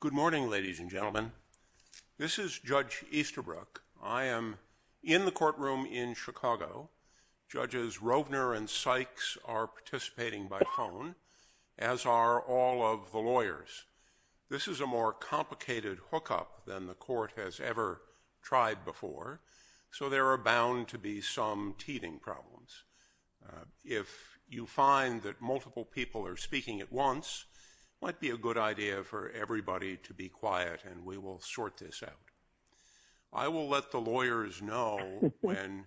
Good morning, ladies and gentlemen. This is Judge Easterbrook. I am in the courtroom in Chicago. Judges Rovner and Sykes are participating by phone, as are all of the lawyers. This is a more complicated hookup than the court has ever tried before, so there are bound to be some teething problems. If you find that multiple people are speaking at once, it might be a good idea for everybody to be quiet, and we will sort this out. I will let the lawyers know when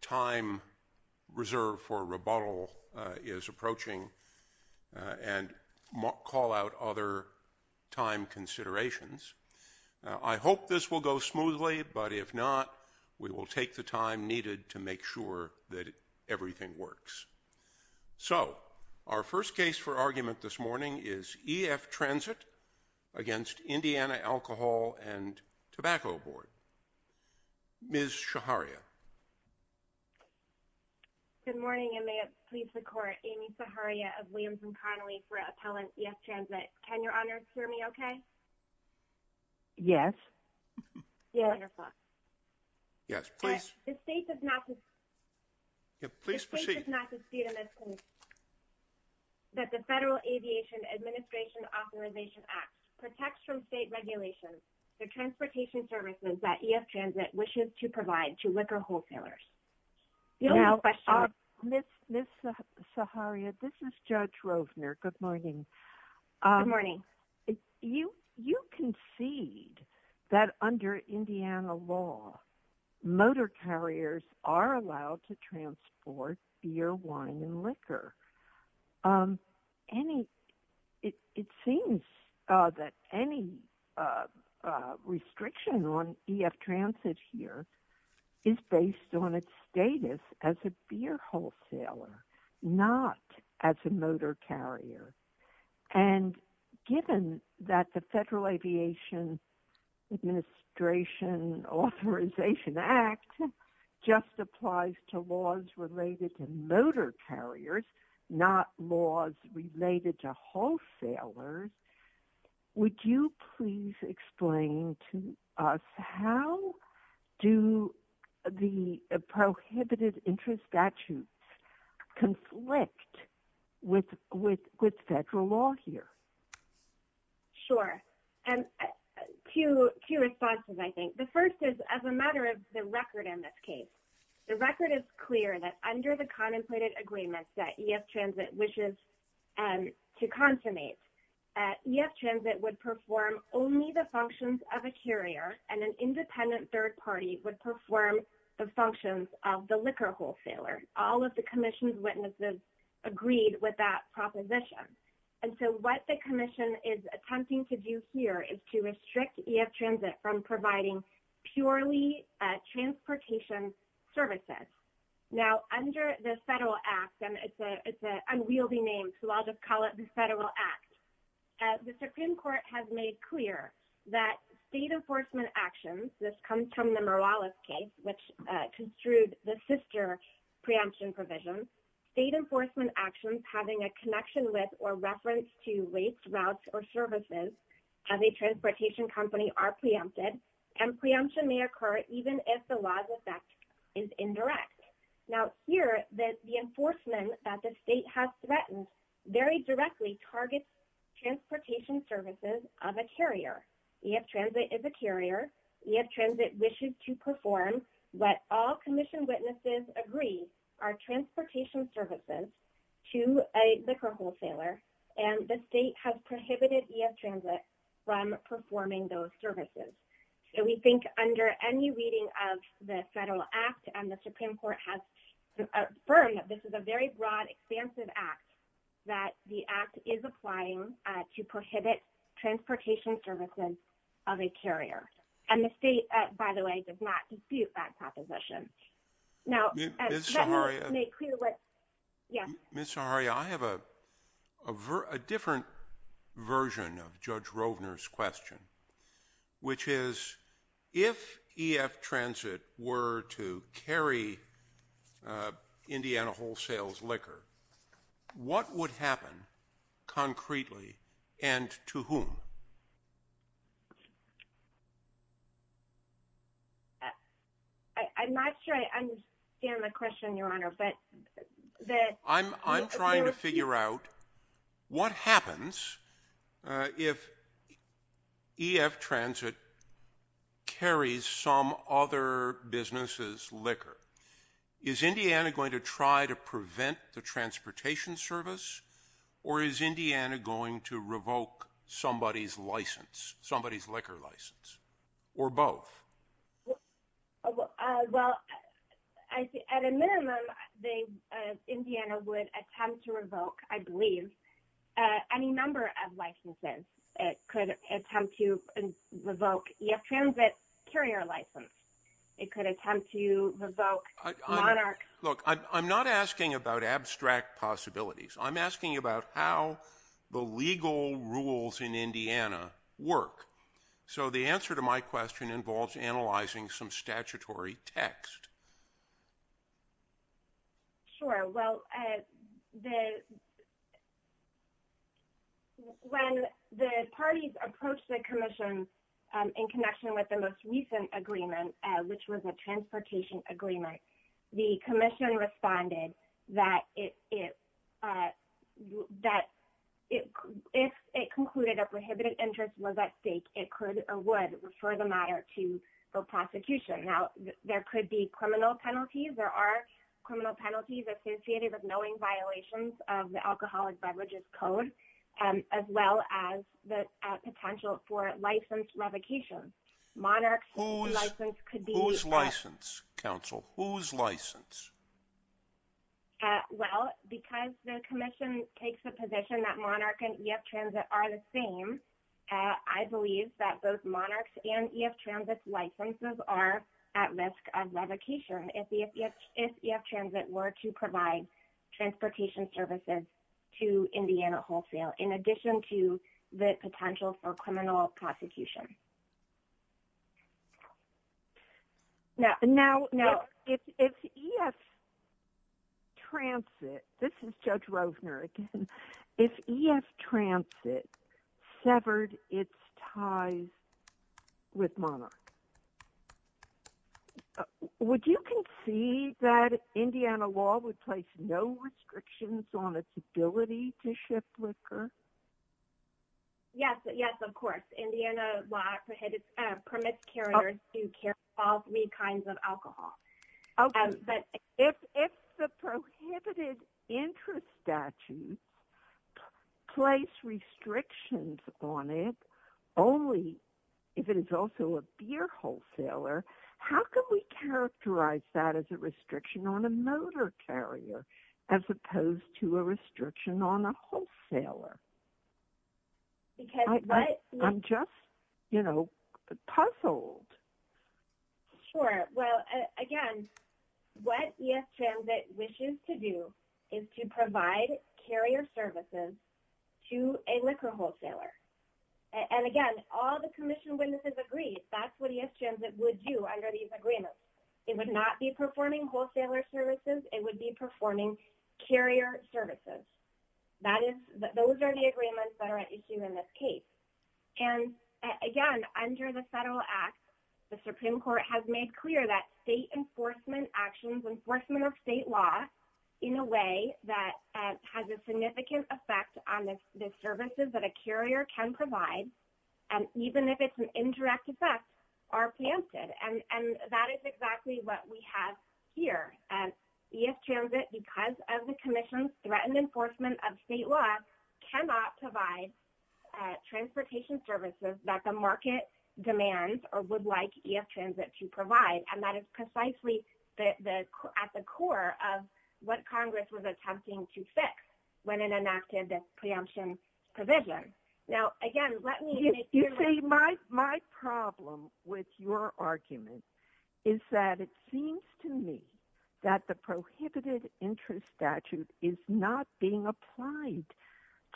time reserve for rebuttal is approaching, and call out other time considerations. I hope this will go smoothly, but if not, we will take the time needed to make sure that everything works. So, our first case for argument this morning is E.F. Transit v. Indiana Alcohol and Tobacco Board. Ms. Shaharia. Good morning, and may it please the Court. Amy Shaharia of Williams and Connolly for Appellant E.F. Transit. Can you please proceed? The state does not concede in this case that the Federal Aviation Administration Authorization Act protects from state regulations the transportation services that E.F. Transit wishes to provide to liquor wholesalers. Now, Ms. Shaharia, this is Judge Rovner. Good morning. Good morning. You concede that under Indiana law, motor carriers are allowed to transport beer, wine, and liquor. It seems that any restriction on E.F. Transit here is based on its status as a beer wholesaler, not as a motor carrier, and given that the Federal Aviation Administration Authorization Act just applies to laws related to motor carriers, not laws related to wholesalers, would you please explain to us how do the prohibited interest statutes conflict with Federal law here? Sure, and two responses, I think. The first is as a matter of the record in this case. The record is clear that under the contemplated agreements that E.F. Transit wishes to consummate, E.F. Transit would perform only the functions of a carrier and an independent third party would perform the functions of the liquor wholesaler. All of the Commission's witnesses agreed with that proposition, and so what the Commission is attempting to do here is to restrict E.F. Transit from providing purely transportation services. Now, under the Federal Act, and it's an unwieldy name, so I'll just call it the Federal Act, the Supreme Court has made clear that state enforcement actions, this comes from the Morales case, which construed the sister preemption provisions, state enforcement actions having a connection with or services of a transportation company are preempted and preemption may occur even if the law's effect is indirect. Now, here, the enforcement that the state has threatened very directly targets transportation services of a carrier. E.F. Transit is a carrier. E.F. Transit wishes to perform what all Commission witnesses agree are transportation services to a liquor wholesaler, and the Commission has prohibited E.F. Transit from performing those services. We think under any reading of the Federal Act, and the Supreme Court has affirmed that this is a very broad, expansive Act, that the Act is applying to prohibit transportation services of a carrier, and the state, by the way, does not dispute that proposition. Now, Ms. Saharia, I have a different version of Judge Rovner's question, which is, if E.F. Transit were to carry Indiana Wholesale's liquor, what would happen concretely, and to whom? I'm not sure I understand the question, Your Honor, but I'm trying to figure out what happens if E.F. Transit carries some other business's liquor. Is Indiana going to try to prevent the transportation service, or is Indiana going to revoke somebody's license, somebody's liquor license, or both? Well, at a minimum, Indiana would attempt to revoke, I believe, any number of licenses. It could attempt to revoke E.F. Transit's carrier license. It could attempt to revoke Monarch. Look, I'm not asking about abstract possibilities. I'm asking about how the legal rules in Indiana work. So the answer to my question involves analyzing some statutory text. Sure, well, when the parties approached the Commission in connection with the most recent agreement, which was a transportation agreement, the Commission responded that if it concluded a prohibited interest was at stake, it could, or would, refer the matter to the prosecution. Now, there could be criminal penalties. There are criminal penalties associated with knowing violations of the Alcoholic Beverages Code, as well as the potential for license revocation. Monarch's license could be revoked. Whose license, counsel? Whose license? Well, because the Commission takes the position that Monarch and E.F. Transit are the same, I believe that both Monarch's and E.F. Transit's licenses are at risk of revocation if E.F. Transit were to provide transportation services to Monarch. Now, if E.F. Transit, this is Judge Rovner again, if E.F. Transit severed its ties with Monarch, would you concede that Indiana law would place no restrictions on its ability to ship liquor? Yes, yes, of course. Indiana law prohibits, permits carriers to carry all three kinds of alcohol. Okay, but if the prohibited interest statute placed restrictions on it, only if it is also a beer wholesaler, how can we characterize that as a restriction on a motor carrier, as opposed to a restriction on a wholesaler? I'm just, you know, puzzled. Sure, well, again, what E.F. Transit wishes to do is to provide carrier services to a liquor wholesaler. And again, all the Commission witnesses agree that's what E.F. Transit would do under these agreements. It would not be performing wholesaler services, it would be performing carrier services. That is, those are the agreements that are at issue in this case. And again, under the Federal Act, the Supreme Court has made clear that state enforcement actions, enforcement of state law, in a way that has a significant effect on the services that a carrier can provide, and even if it's an indirect effect, are preempted. And that is exactly what we have here. E.F. Transit, because of the Commission's threatened enforcement of state law, cannot provide transportation services that the market demands or would like E.F. Transit to provide. And that is precisely at the core of what Congress was attempting to fix when it enacted this preemption provision. Now, again, let me... My problem with your argument is that it seems to me that the prohibited interest statute is not being applied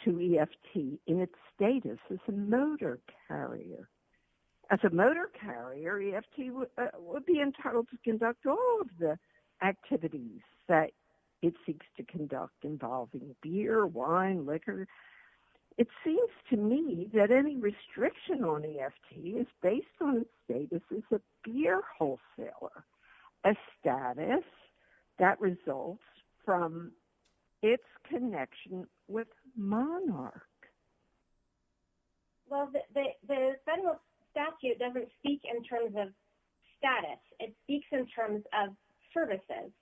to E.F.T. in its status as a motor carrier. As a motor carrier, E.F.T. would be entitled to conduct all of the activities that it seeks to conduct involving beer, wine, liquor. It seems to me that any restriction on E.F.T. is based on its status as a beer wholesaler, a status that results from its connection with Monarch. Well, the Federal statute doesn't speak in terms of status. It speaks in terms of services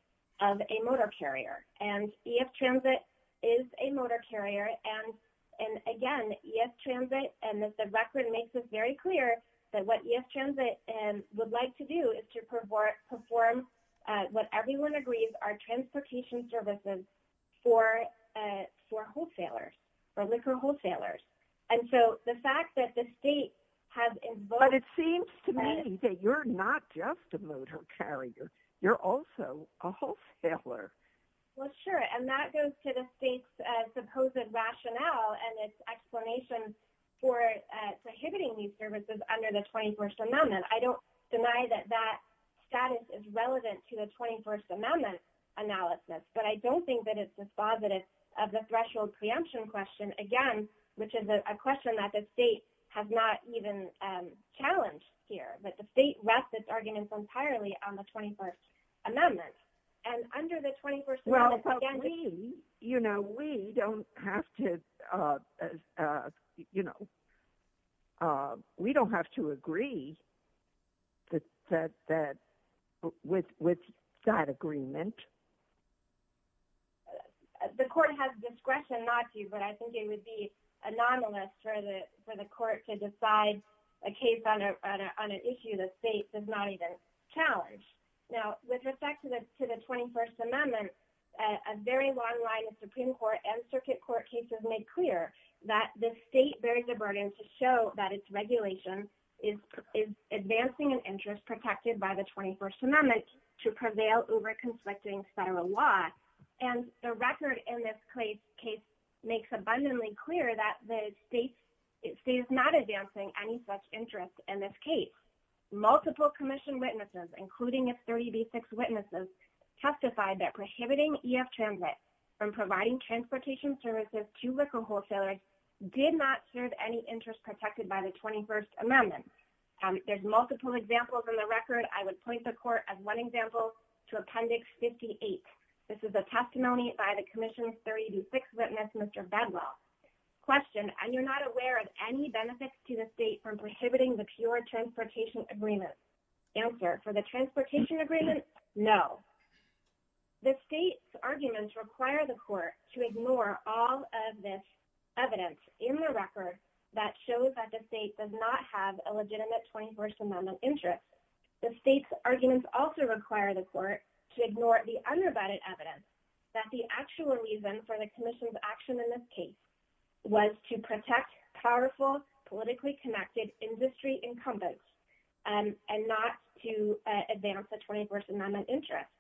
of a motor carrier. And E.F. Transit is a motor carrier. And again, E.F. Transit's record makes it very clear that what E.F. Transit would like to do is to perform what everyone agrees are transportation services for wholesalers, for liquor wholesalers. And so the fact that the state has invoked... But it seems to me that you're not just a motor carrier. You're also a wholesaler. Well, sure. And that goes to the state's supposed rationale and its explanation for prohibiting these services under the 21st Amendment. I don't deny that that status is relevant to the 21st Amendment analysis. But I don't think that it's dispositive of the threshold preemption question, again, which is a question that the state has not even challenged here. But the state rests its arguments entirely on the 21st Amendment. And under the 21st Amendment... Well, but we, you know, we don't have to, you know, we don't have to agree with that agreement. The court has discretion not to, but I think it would be anomalous for the court to decide a case on an issue that the state does not even challenge. Now, with respect to the 21st Amendment, a very long line of Supreme Court and circuit court cases make clear that the state bears the burden to show that its regulation is advancing an interest protected by the 21st Amendment to prevail over conflicting federal law. And the record in this case makes abundantly clear that the state is not advancing any such interest in this case. Multiple commission witnesses, including its 30B6 witnesses, testified that prohibiting EF transit from providing transportation services to liquor wholesalers did not serve any interest protected by the 21st Amendment. There's multiple examples in the record. I would point the court as one example to Appendix 58. This is a testimony by the commission's 30B6 witness, Mr. Bedwell. Question, are you not aware of any benefits to the state from prohibiting the pure transportation agreement? Answer, for the transportation agreement, no. The state's arguments require the court to ignore all of this evidence in the record that shows that the state does not have a legitimate 21st Amendment interest. The state's arguments also require the court to ignore the unrebutted evidence that the actual reason for the commission's action in this case was to protect powerful politically connected industry incumbents and not to advance the 21st Amendment interest.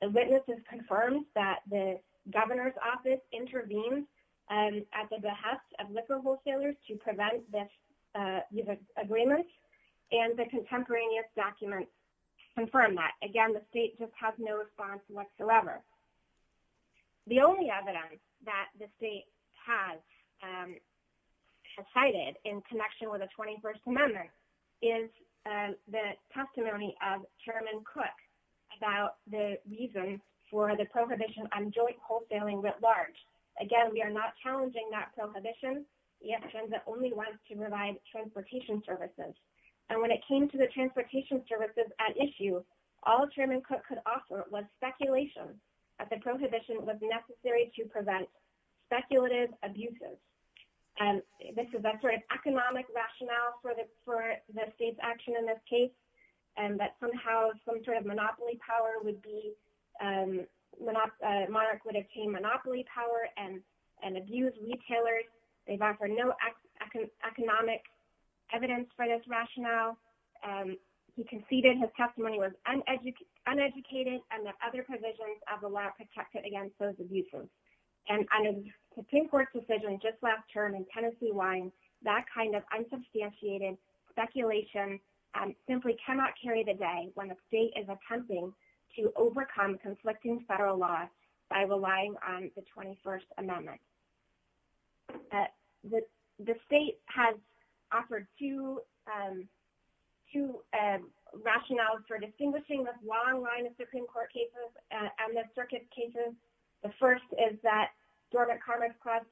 The witnesses confirmed that the governor's office intervened at the behest of liquor wholesalers to prevent this agreement, and the contemporaneous documents confirm that. Again, the state just has no response whatsoever. The only evidence that the state has cited in connection with the 21st Amendment is the testimony of Chairman Cook about the reason for the prohibition on joint wholesaling writ large. Again, we are not challenging that prohibition. EF Transit only wants to provide transportation services, and when it came to the transportation services at issue, all Chairman Cook could offer was speculation that the prohibition was necessary to prevent speculative abuses. This is a sort of economic rationale for the state's action in this case, and that somehow some sort of monopoly power would be Monarch would obtain monopoly power and abuse retailers. They've offered no economic evidence for this rationale. He conceded his testimony was uneducated and that other provisions of the law protected against those abuses. And under the Supreme Court's decision just last term in Tennessee wine, that kind of unsubstantiated speculation simply cannot carry the day when the state is attempting to overcome conflicting federal laws by relying on the 21st Amendment. The state has offered two rationales for distinguishing this long line of Supreme Court cases and the circuit cases. The first is that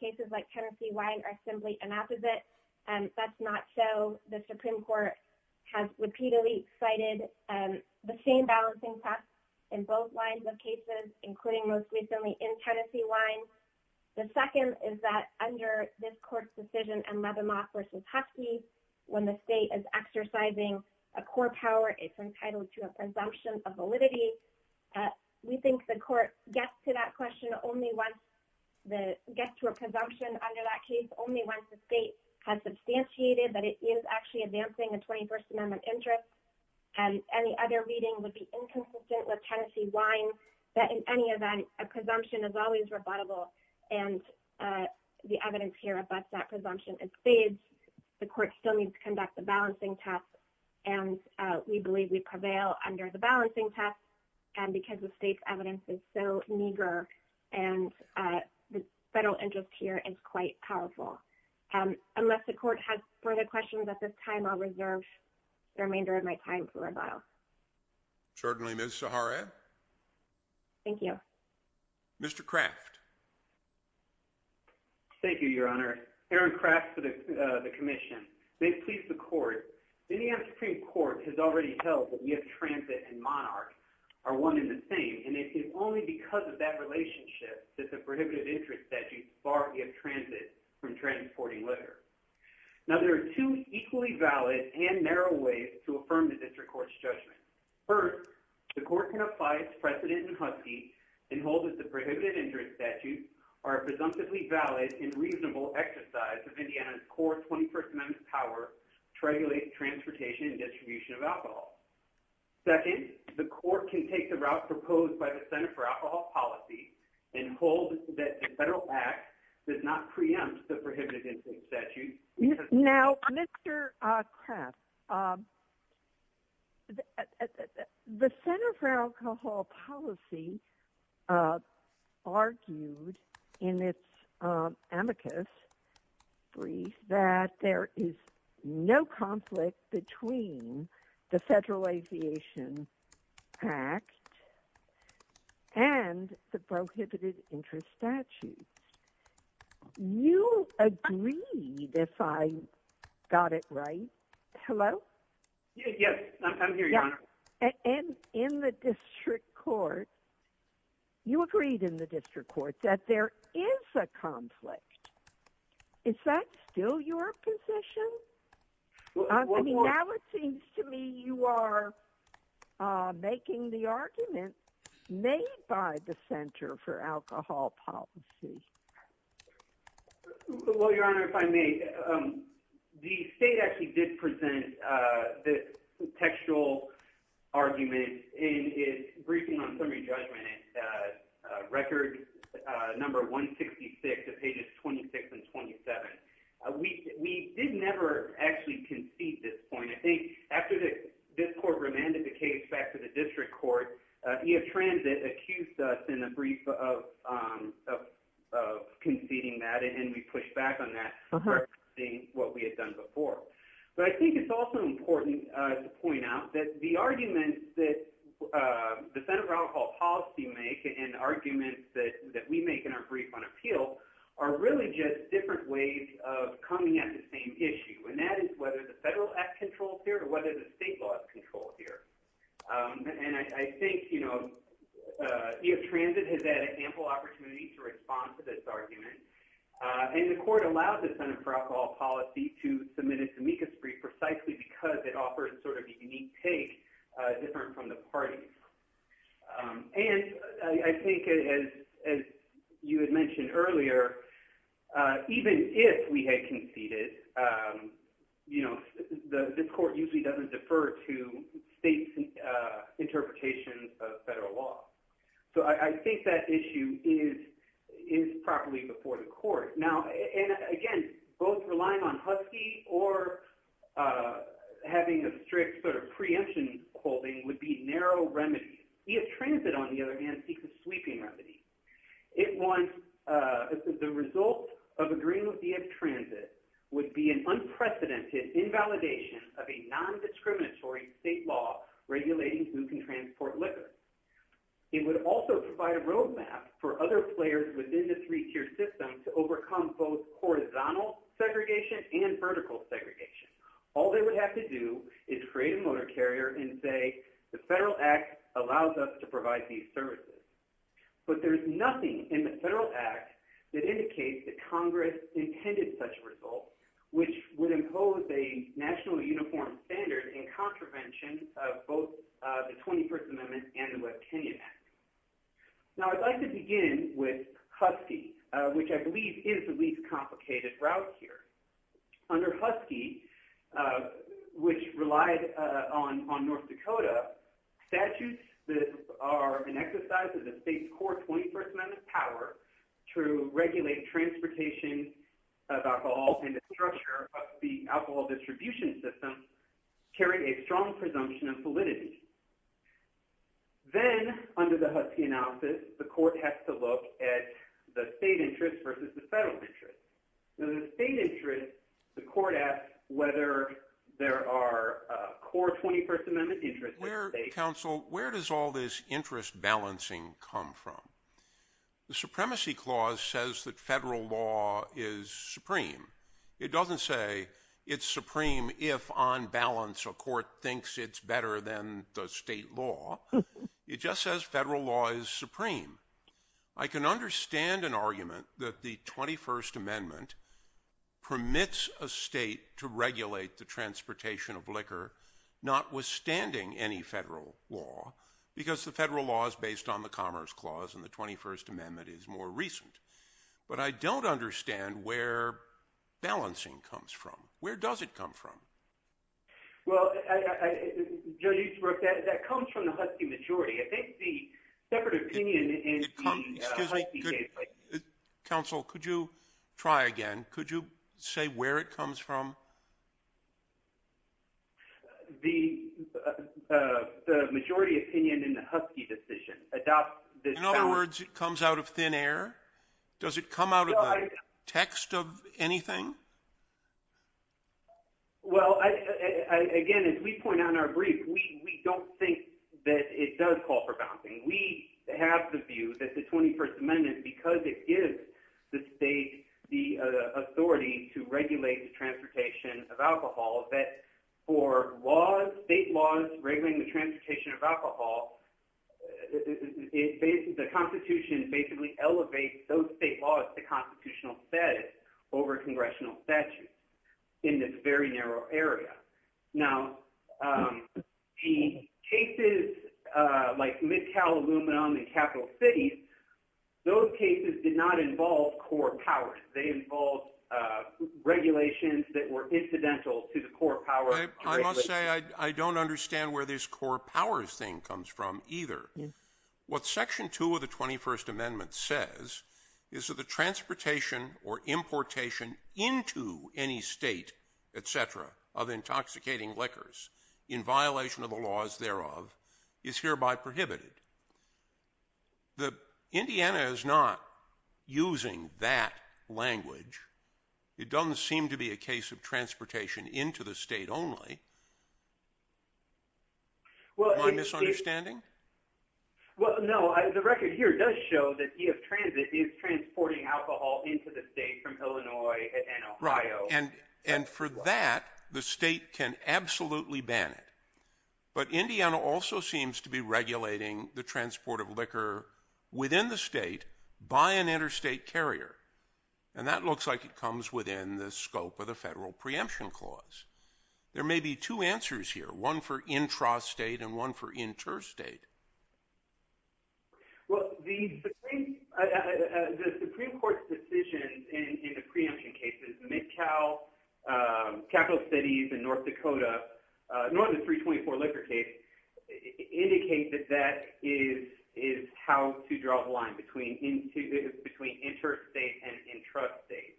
cases like Tennessee wine are simply an opposite, and that's not so. The Supreme Court has repeatedly cited the same balancing facts in both lines of cases, including most recently in Tennessee wine. The second is that under this court's decision and when the state is exercising a core power, it's entitled to a presumption of validity. We think the court gets to a presumption under that case only once the state has substantiated that it is actually advancing the 21st Amendment interest. Any other reading would be inconsistent with Tennessee wine, but in any event, a presumption is always rebuttable. And the evidence here abuts that presumption in spades. The court still needs to conduct the balancing test, and we believe we prevail under the balancing test. And because the state's evidence is so meager and the federal interest here is quite powerful. Unless the court has further questions at this time, I'll reserve the remainder of my time for revile. Certainly, Ms. Sahara. Thank you. Mr. Craft. Thank you, Your Honor. Aaron Craft for the commission. May it please the court. Indiana Supreme Court has already held that we have transit and monarch are one and the same, and it is only because of that relationship that the prohibitive interest statute barred we have transit from transporting liquor. Now there are two equally valid and narrow ways to affirm the district court's judgment. First, the court can apply its precedent in Huskie and hold that the prohibitive interest statutes are a presumptively valid and reasonable exercise of Indiana's core 21st Amendment power to regulate transportation and distribution of alcohol. Second, the court can take the route proposed by the prohibitive interest statute. Now, Mr. Craft, the Center for Alcohol Policy argued in its amicus brief that there is no conflict between the Federal Aviation Act and the prohibited interest statute. You agreed, if I got it right. Hello? Yes, I'm here, Your Honor. And in the district court, you agreed in the district court that there is a conflict. Is that still your position? I mean, now it seems to me you are making the argument made by the Center for Alcohol Policy. Well, Your Honor, if I may, the state actually did present the textual argument in its briefing on summary judgment at record number 166 of pages 26 and 27. We did never actually concede this point. I think after this court remanded the case back to the district court, EF Transit accused us in a brief of conceding that, and we pushed back on that for seeing what we had done before. But I think it's also important to point out that the arguments that the Center for Alcohol Policy make and arguments that we make in our brief on appeals are really just different ways of coming at the same issue. And that is whether the Federal Act controls here or whether the state laws control here. And I think, you know, EF Transit has had ample opportunity to respond to this argument. And the court allowed the Center for Alcohol Policy to submit its amicus brief precisely because it offered sort of a unique take, different from the parties. And I think, as you had mentioned earlier, even if we had conceded, you know, this court usually doesn't defer to states' interpretation of federal law. So I think that issue is properly before the court. Now, and again, both relying on Husky or having a strict sort of preemption holding would be narrow remedies. EF Transit, on the other hand, seeks a sweeping remedy. It wants the result of agreeing with EF Transit would be an unprecedented invalidation of a non-discriminatory state law regulating who can transport liquor. It would also provide a roadmap for other players within the three-tier system to overcome both horizontal segregation and vertical segregation. All they would have to do is create a motor carrier and say the Federal Act allows us to provide these services. But there's nothing in the Federal Act that indicates that Congress intended such a result which would impose a national uniform standard in contravention of both the 21st Amendment and the West Kenyan Act. Now, I'd like to begin with Husky, which I believe is the least complicated route here. Under Husky, which relied on North Dakota, statutes that are an exercise of the state's core 21st Amendment power to regulate transportation of alcohol and the structure of the alcohol distribution system carry a strong presumption of validity. Then, under the Husky analysis, the court has to look at the state interest versus the federal interest. In the state interest, the court asks whether there are core 21st Amendment interests in the state. Where, counsel, where does all this interest balancing come from? The Supremacy Clause says that federal law is supreme. It doesn't say it's supreme if on balance a court thinks it's better than the state law. It just says federal law is supreme. I can understand an argument that the 21st Amendment permits a state to regulate the transportation of liquor, notwithstanding any federal law, because the federal law is based on the Commerce Clause and the 21st Amendment is more recent. But I don't understand where balancing comes from. Where does it come from? Well, that comes from the Husky majority. I think the separate opinion in the Husky case... Counsel, could you try again? Could you say where it comes from? The majority opinion in the Husky decision adopts... In other words, it comes out of thin air? Does it come out of the text of anything? Well, again, as we point out in our brief, we don't think that it does call for balancing. We have the view that the 21st Amendment, because it gives the state the authority to regulate the transportation of alcohol, that for state laws regulating the transportation of alcohol, the Constitution basically elevates those state laws to constitutional status over congressional statutes in this very narrow area. Now, the cases like Mid-Cal Aluminum and Capital Cities, those cases did not I must say, I don't understand where this core powers thing comes from either. What Section 2 of the 21st Amendment says is that the transportation or importation into any state, etc., of intoxicating liquors in violation of the laws thereof is hereby prohibited. Indiana is not using that language. It doesn't seem to be a case of transportation into the state only. Am I misunderstanding? Well, no. The record here does show that EF Transit is transporting alcohol into the state from Illinois and Ohio. And for that, the state can absolutely ban it. But Indiana also seems to be regulating the transport of liquor within the state by an interstate carrier. And that looks like it comes within the scope of the federal preemption clause. There may be two answers here, one for intrastate and one for interstate. Well, the Supreme Court's decisions in the preemption cases, Mid-Cal, Capital Cities, and North Dakota, nor the 324 liquor case, indicate that that is how to draw the line between interstate and intrastate.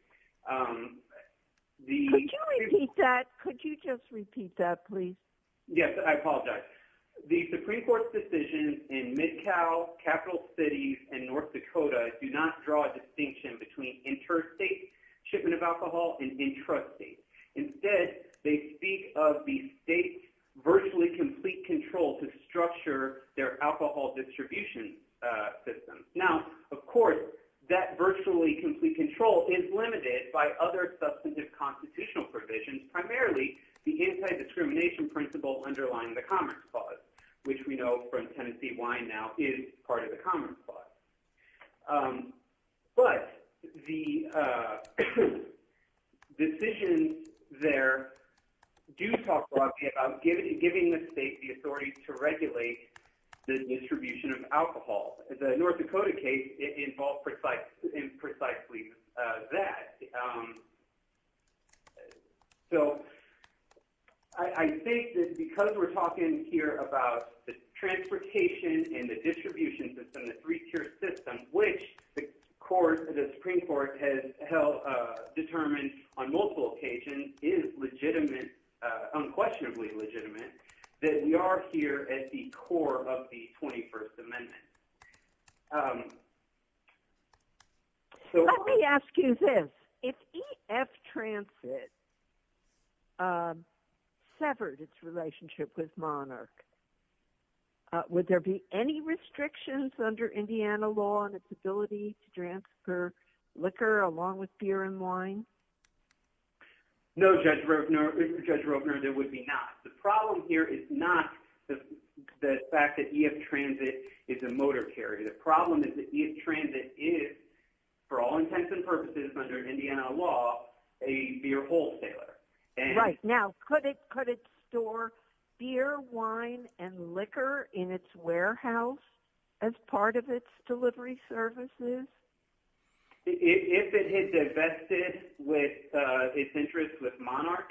Could you repeat that? Could you just repeat that? Well, the Supreme Court's decisions in Mid-Cal, Capital Cities, and North Dakota do not draw a distinction between interstate shipment of alcohol and intrastate. Instead, they speak of the state's virtually complete control to structure their alcohol distribution systems. Now, of course, that virtually complete control is limited by other substantive constitutional provisions, primarily the anti-discrimination principle underlying the Commerce Clause, which we know from Tennessee Wine now is part of the Commerce Clause. But the decisions there do talk broadly about giving the state the authority to regulate the distribution of alcohol. The North Dakota case involved precisely that. So, I think that because we're talking here about the transportation and the distribution system, the three-tier system, which the Supreme Court has determined on multiple occasions is unquestionably legitimate, that we are here at the core of the 21st Amendment. Let me ask you this. If EF Transit severed its relationship with Monarch, would there be any restrictions under Indiana law on its ability to transfer liquor along with beer and wine? No, Judge Roebner, there would be not. The problem here is not the fact that EF Transit is a motor carrier. The problem is that EF Transit is, for all intents and purposes under Indiana law, a beer wholesaler. Right. Now, could it store beer, wine, and liquor in its warehouse as part of its delivery services? If it had divested its interests with Monarch,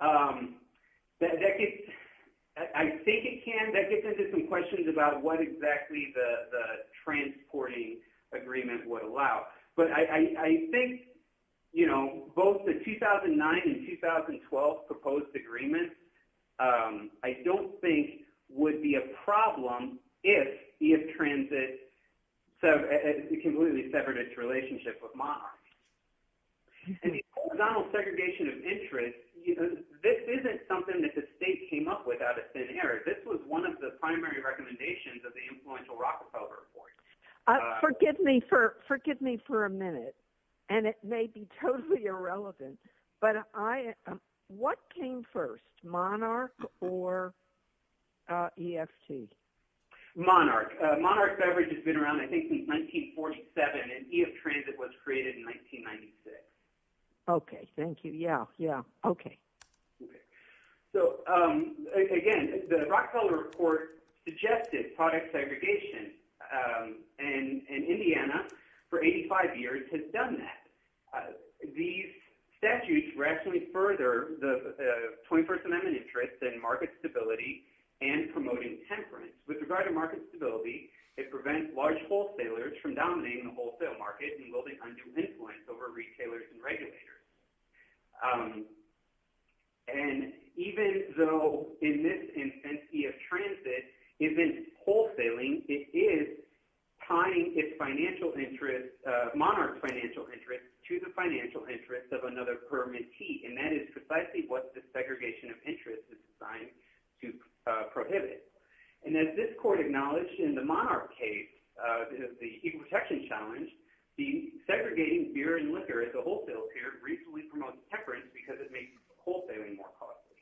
I think it can. That gets into some questions about what exactly the transporting agreement would allow. But I think both the 2009 and 2012 proposed agreement, I don't think would be a problem if EF Transit completely severed its relationship with Monarch. And the horizontal segregation of interests, this isn't something that the state came up with out of thin air. This was one of the primary recommendations of the Influential Rockefeller Report. Forgive me for a minute, and it may be totally irrelevant, but what came first, Monarch or EFT? Monarch. Monarch severed its Okay. Thank you. Yeah. Yeah. Okay. Again, the Rockefeller Report suggested product segregation, and Indiana for 85 years has done that. These statutes rationally further the 21st Amendment interest in market stability and promoting temperance. With regard to market stability, it prevents large wholesalers from dominating the wholesale market and building undue influence over retailers and regulators. And even though in this instance EF Transit isn't wholesaling, it is tying its financial interest, Monarch's financial interest, to the financial interest of another permittee. And that is precisely what the segregation of interests is designed to prohibit. And as this court acknowledged in the Monarch case, the Equal Protection Challenge, the segregating beer and liquor as a wholesale pair reasonably promotes temperance because it makes wholesaling more costly.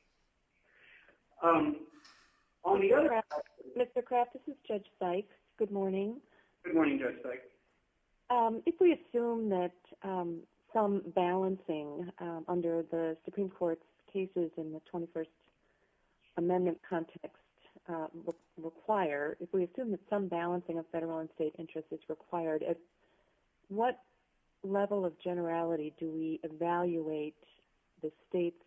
Mr. Kraft, this is Judge Sykes. Good morning. Good morning, Judge Sykes. If we assume that some balancing under the Supreme Court's cases in the 21st Amendment context require, if we assume that some balancing of federal and state interest is required, at what level of generality do we evaluate the state's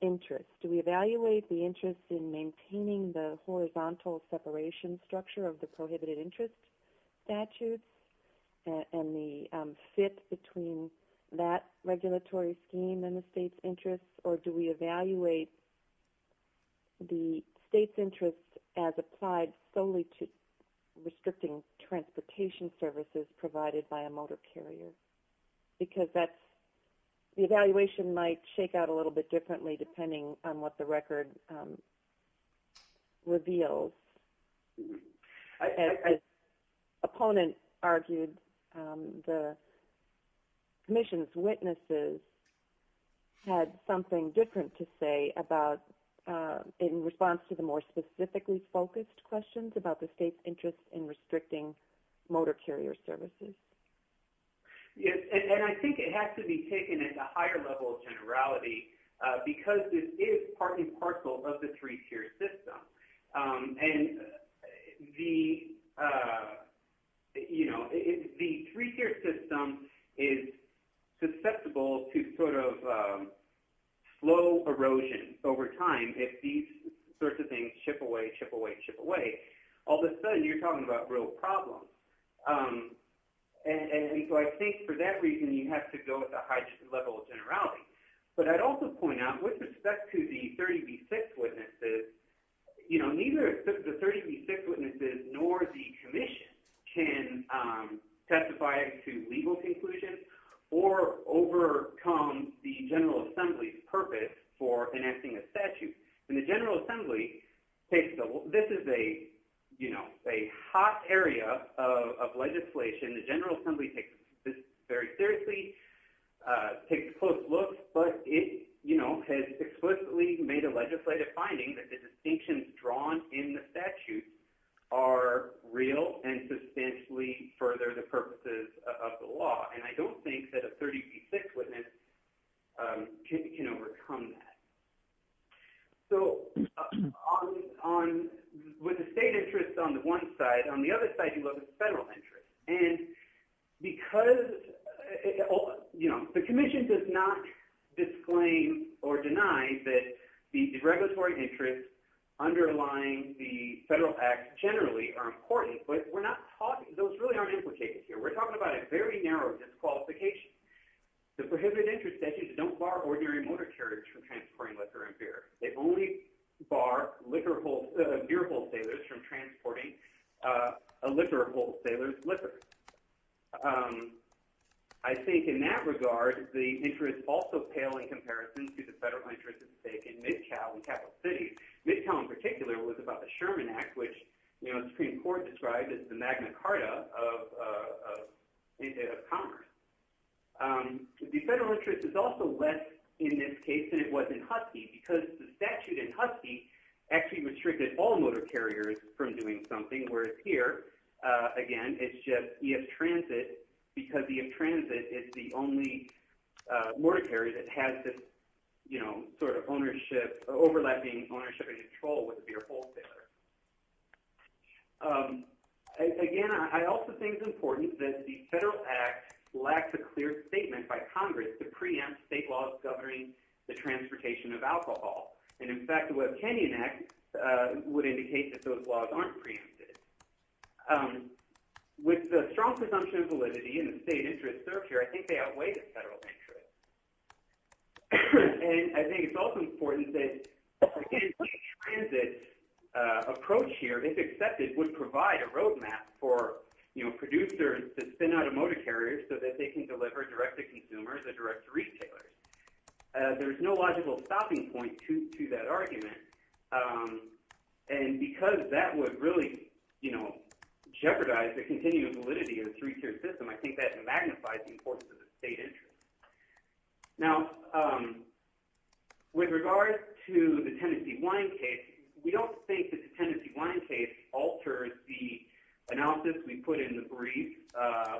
interest? Do we evaluate the interest in maintaining the horizontal separation structure of the prohibited interest statutes and the fit between that regulatory scheme and the state's interest? Or do we evaluate the state's interest as applied solely to restricting transportation services provided by a motor carrier? Because the evaluation might shake out a little bit differently depending on what the record reveals. As an opponent argued, the Commission's witnesses had something different to say in response to the more specifically And I think it has to be taken at a higher level of generality because this is part and parcel of the three-tier system. The three-tier system is susceptible to slow erosion over time if these sorts of things ship away, ship away, ship away. All of a sudden you're talking about real problems. I think for that reason you have to go at the highest level of generality. With respect to the 30B6 witnesses, neither the 30B6 witnesses nor the Commission can testify to legal conclusions or overcome the So this is a hot area of legislation. The General Assembly takes this very seriously, takes a close look, but it has explicitly made a legislative finding that the distinctions drawn in the statute are real and substantially further the purposes of the law. And I don't think that a 30B6 witness can overcome that. With the state interest on the one side, on the other side you have the federal interest. The Commission does not disclaim or deny that the regulatory interests underlying the federal act generally are important, but those really aren't implicated here. We're talking about a very narrow disqualification. The prohibited interest statute don't bar ordinary motor carriers from transporting liquor and beer. They only bar beer wholesalers from transporting a liquor wholesaler's liquor. I think in that regard the interests also pale in comparison to the federal interest at stake in Mid-Cal and Capital City. Mid-Cal in particular was about the Sherman Act, which the Supreme Court described as the Magna Carta of Commerce. The federal interest is also less in this case than it was in Husky because the statute in Husky actually restricted all motor carriers from doing something, whereas here, again, it's just the F-Transit because the F-Transit is the only motor carrier that has this sort of ownership, overlapping ownership and control with a beer wholesaler. Again, I also think it's important that the federal act lacks a clear statement by Congress to preempt state laws governing the transportation of alcohol. And in fact, the strong presumption of validity and the state interest served here, I think they outweigh the federal interest. And I think it's also important that the F-Transit approach here, if accepted, would provide a roadmap for producers to send out a motor carrier so that they can deliver direct to consumers or direct to retailers. There's no logical stopping point to that argument. And because that would really jeopardize the continued validity of the three-tier system, I think that magnifies the importance of the state interest. Now, with regards to the Tennessee wine case, we don't think that the Tennessee wine case alters the analysis we put in the brief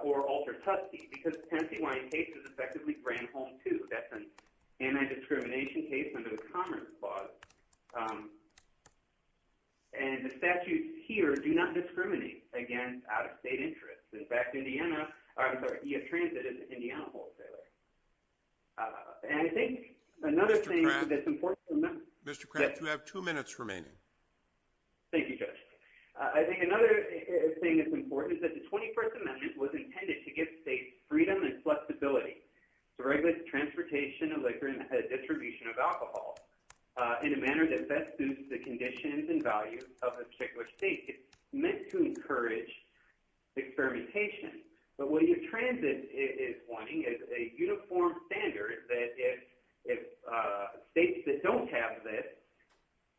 or alters Husky because the Tennessee wine case is effectively brand home, too. That's an anti-discrimination case under the Commerce Clause. And the statutes here do not discriminate against out-of-state interests. In fact, EF-Transit is an Indiana wholesaler. And I think another thing that's important... Mr. Kraft, you have two minutes remaining. Thank you, Judge. I think another thing that's important is that the 21st Amendment was intended to give states freedom and flexibility to regulate transportation of liquor and distribution of alcohol in a manner that best suits the conditions and values of a particular state. It's meant to encourage experimentation. But what EF-Transit is wanting is a uniform standard that if states that don't have this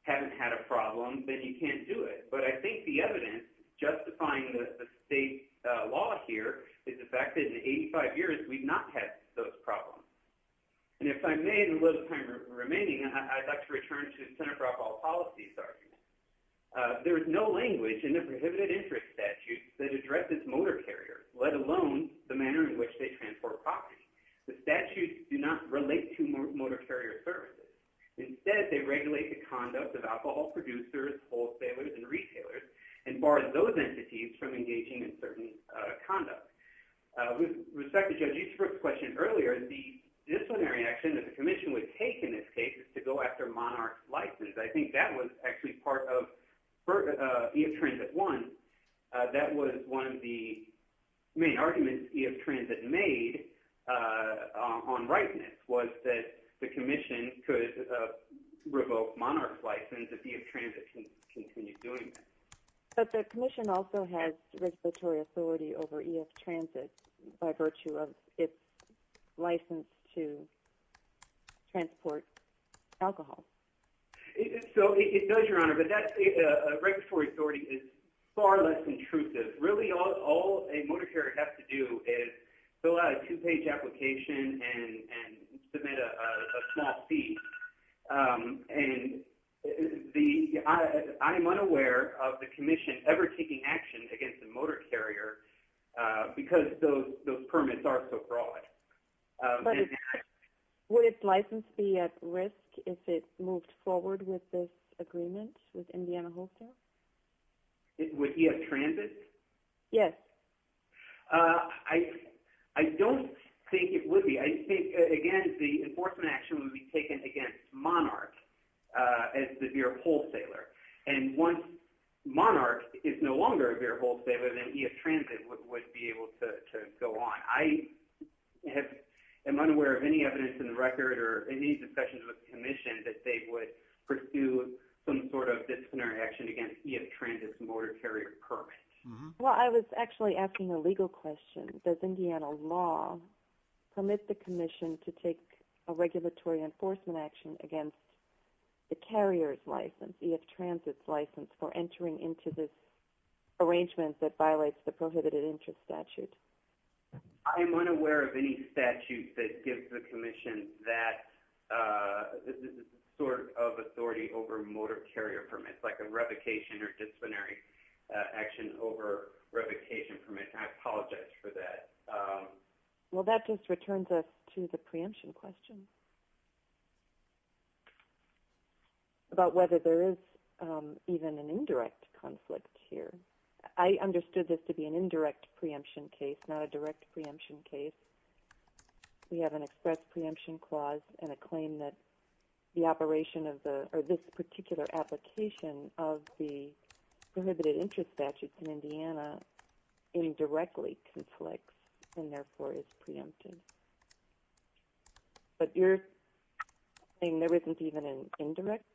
haven't had a problem, then you can't do it. But I think the evidence justifying the state law here is the fact that in 85 years, we've not had those problems. And if I may, in the little time remaining, I'd like to return to the Center for Alcohol Policy's argument. There is no language in the statute that does not relate to motor carrier services. Instead, they regulate the conduct of alcohol producers, wholesalers, and retailers, and bar those entities from engaging in certain conduct. With respect to Judge Easterbrook's question earlier, the disciplinary action that the commission would take in this case is to go after monarch's license. I think that was actually part of EF-Transit 1. That was one of the main arguments EF-Transit made on rightness was that the commission could revoke monarch's license if EF-Transit continued doing that. But the commission also has regulatory authority over EF-Transit by virtue of its license to transport alcohol. It does, Your Honor, but that regulatory authority is far less intrusive. Really, all a motor carrier has to do is fill out a two-page application and submit a small fee. I am unaware of the commission ever taking action against a motor carrier because those permits are so broad. Would its license be at risk if it moved forward with this agreement with Indiana Wholesale? With EF-Transit? Yes. I don't think it would be. I think, again, the enforcement action would be taken against monarch as the beer wholesaler. Once monarch is no longer a beer wholesaler, then EF-Transit would be able to go on. I am unaware of any evidence in the record or any discussions with the commission that they would pursue some sort of disciplinary action against EF-Transit's motor carrier permit. I was actually asking a legal question. Does Indiana law permit the commission to take a regulatory enforcement action against the carrier's license, EF-Transit's license, for entering into this arrangement that violates the prohibited interest statute? I am unaware of any statute that gives the commission that sort of authority over motor carrier permits, like a revocation or disciplinary action over revocation permits. I apologize for that. Well, that just returns us to the preemption question about whether there is even an indirect conflict here. I understood this to be an indirect preemption case, not a direct preemption case. We have an express preemption clause and a claim that this particular application of the prohibited interest statute in Indiana indirectly conflicts and therefore is preempted. But you're saying there isn't even an indirect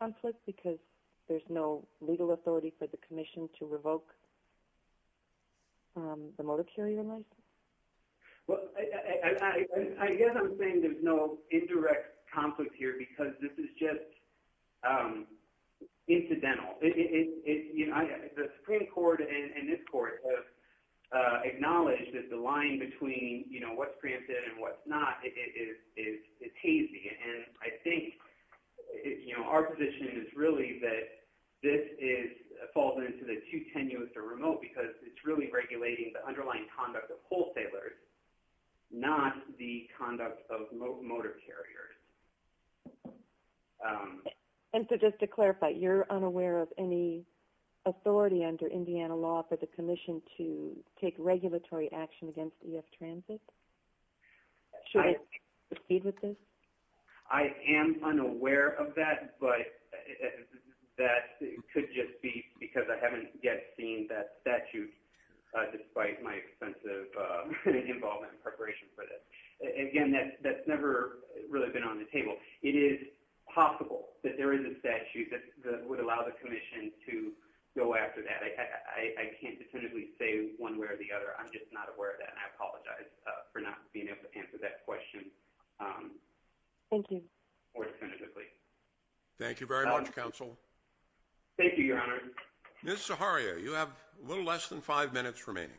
conflict because there's no legal authority for the commission to revoke the motor carrier license? I guess I'm saying there's no indirect conflict here because this is just incidental. The Supreme Court and this Court have acknowledged that the line between what's preempted and what's not is hazy. And I think our position is really that this falls into the too tenuous or remote because it's really regulating the underlying conduct of wholesalers not the conduct of motor carriers. And so just to clarify, you're unaware of any authority under Indiana law for the commission to take regulatory action against EF Transit? Should it proceed with this? I am unaware of that, but that could just be because I haven't yet seen that statute despite my extensive involvement in preparation for this. Again, that's never really been on the table. It is possible that there is a one way or the other. I'm just not aware of that. I apologize for not being able to answer that question. Thank you. Ms. Zaharia, you have a little less than five minutes remaining.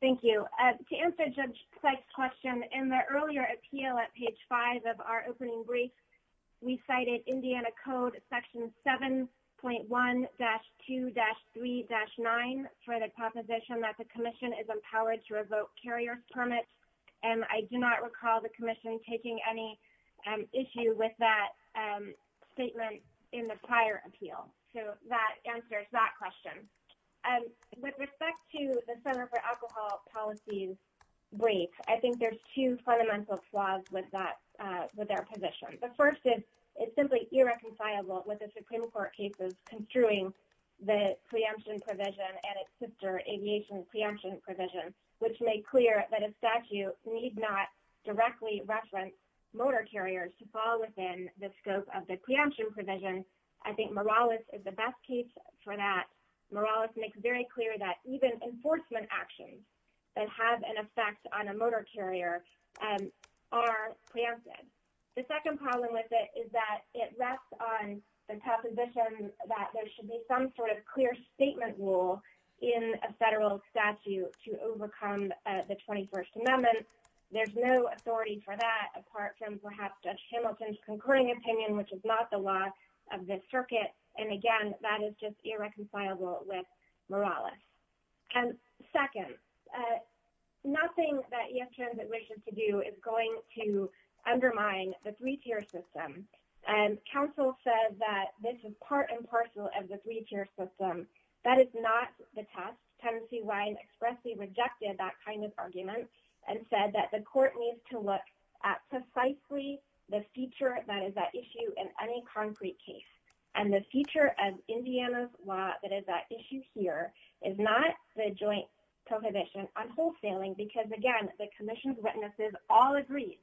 Thank you. To answer Judge Sykes' question, in the earlier appeal at page 5 of our opening brief, we cited Indiana Code Section 7.1-2-3-9 for the proposition that the commission is empowered to revoke carrier permits. And I do not recall the commission taking any issue with that statement in the prior appeal. So that answers that question. With respect to the consumer for alcohol policies brief, I think there's two fundamental flaws with that position. The first is it's simply irreconcilable with the Supreme Court cases construing the preemption provision and its sister aviation preemption provision, which made clear that a statute need not directly reference motor carriers to fall within the scope of the preemption provision. I think Morales is the best case for that. Morales makes very clear that even enforcement actions that have an effect on a motor carrier are preempted. The second problem with it is that it rests on the proposition that there should be some sort of clear statement rule in a federal statute to overcome the 21st Amendment. There's no authority for that, apart from perhaps Judge Hamilton's concurring opinion, which is not the law of this circuit. And again, that is just irreconcilable with Morales. Second, nothing that ES Transit wishes to do is going to undermine the three-tier system. And counsel said that this is part and parcel of the three-tier system. That is not the test. Tennessee Wines expressly rejected that kind of argument and said that the court needs to look at precisely the feature that is at issue in any concrete case. And the feature of Indiana's law that is at issue here is not the joint prohibition on wholesaling, because again, the commission's witnesses all agreed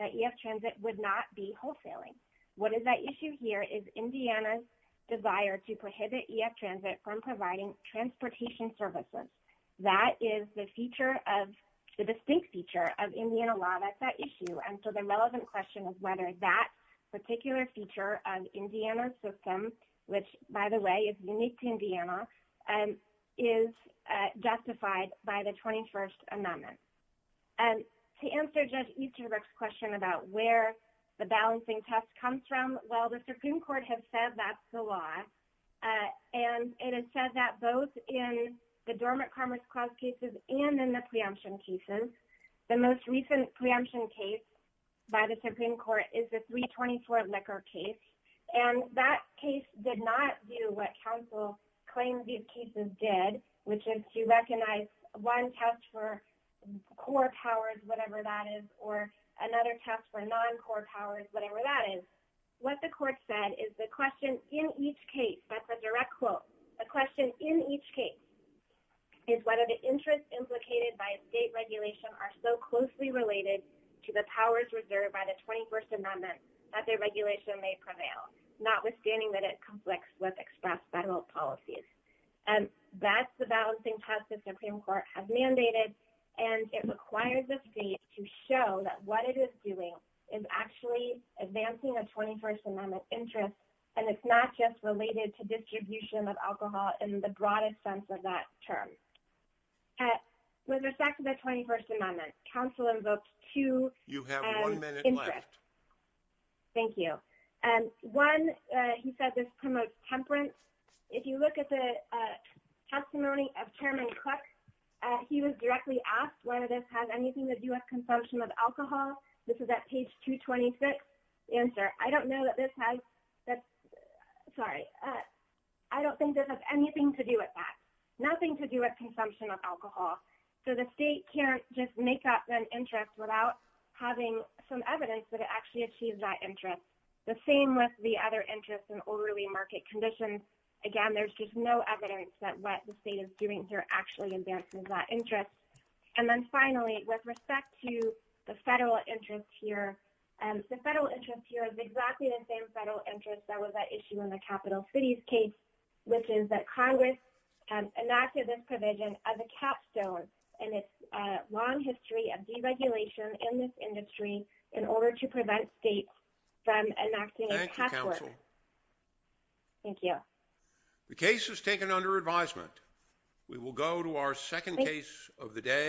that ES Transit would not be wholesaling. What is at issue here is Indiana's desire to prohibit ES Transit from providing transportation services. That is the distinct feature of Indiana law that's at issue. And so the relevant question is whether that particular feature of Indiana's system, which, by the way, is unique to Indiana, is justified by the 21st Amendment. And to answer Judge Easterbrook's question about where the balancing test comes from, well, the Supreme Court has said that's the law. And it has said that both in the Dormant Crime Response cases and in the preemption cases. The most recent preemption case by the Supreme Court is the 324 liquor case. And that case did not do what counsel claimed these cases did, which is to recognize one test for core powers, whatever that is, or another test for non-core powers, whatever that is. What the court said is the question in each case, that's a direct quote, the question in each case is whether the interests implicated by state regulation are so closely related to the powers reserved by the 21st Amendment that their regulation may prevail, notwithstanding that it conflicts with express federal policies. And that's the balancing test the Supreme Court has mandated, and it requires the state to show that what it is doing is actually advancing a 21st Amendment interest, and it's not just related to distribution of alcohol in the broadest sense of that term. With respect to the 21st Amendment, counsel invoked two interests. Thank you. One, he said this promotes temperance. If you look at the testimony of Chairman Cook, he was directly asked whether this has anything to do with consumption of alcohol. This is at page 226. The answer, I don't know that this has that, sorry, I don't think this has anything to do with that. Nothing to do with consumption of alcohol. So the state can't just make up an interest without having some evidence that it actually achieves that interest. The same with the other interest in orderly market conditions. Again, there's just no evidence that what the state is doing here actually advances that interest. And then finally, with respect to the federal interest here, the federal interest here is exactly the same federal interest that was at issue in the Capital Cities case, which is that Congress enacted this provision as a capstone in its long history of deregulation in this industry in order to prevent states from enacting a tax work. Thank you, counsel. The case is taken under advisement. We will go to our second case of the day.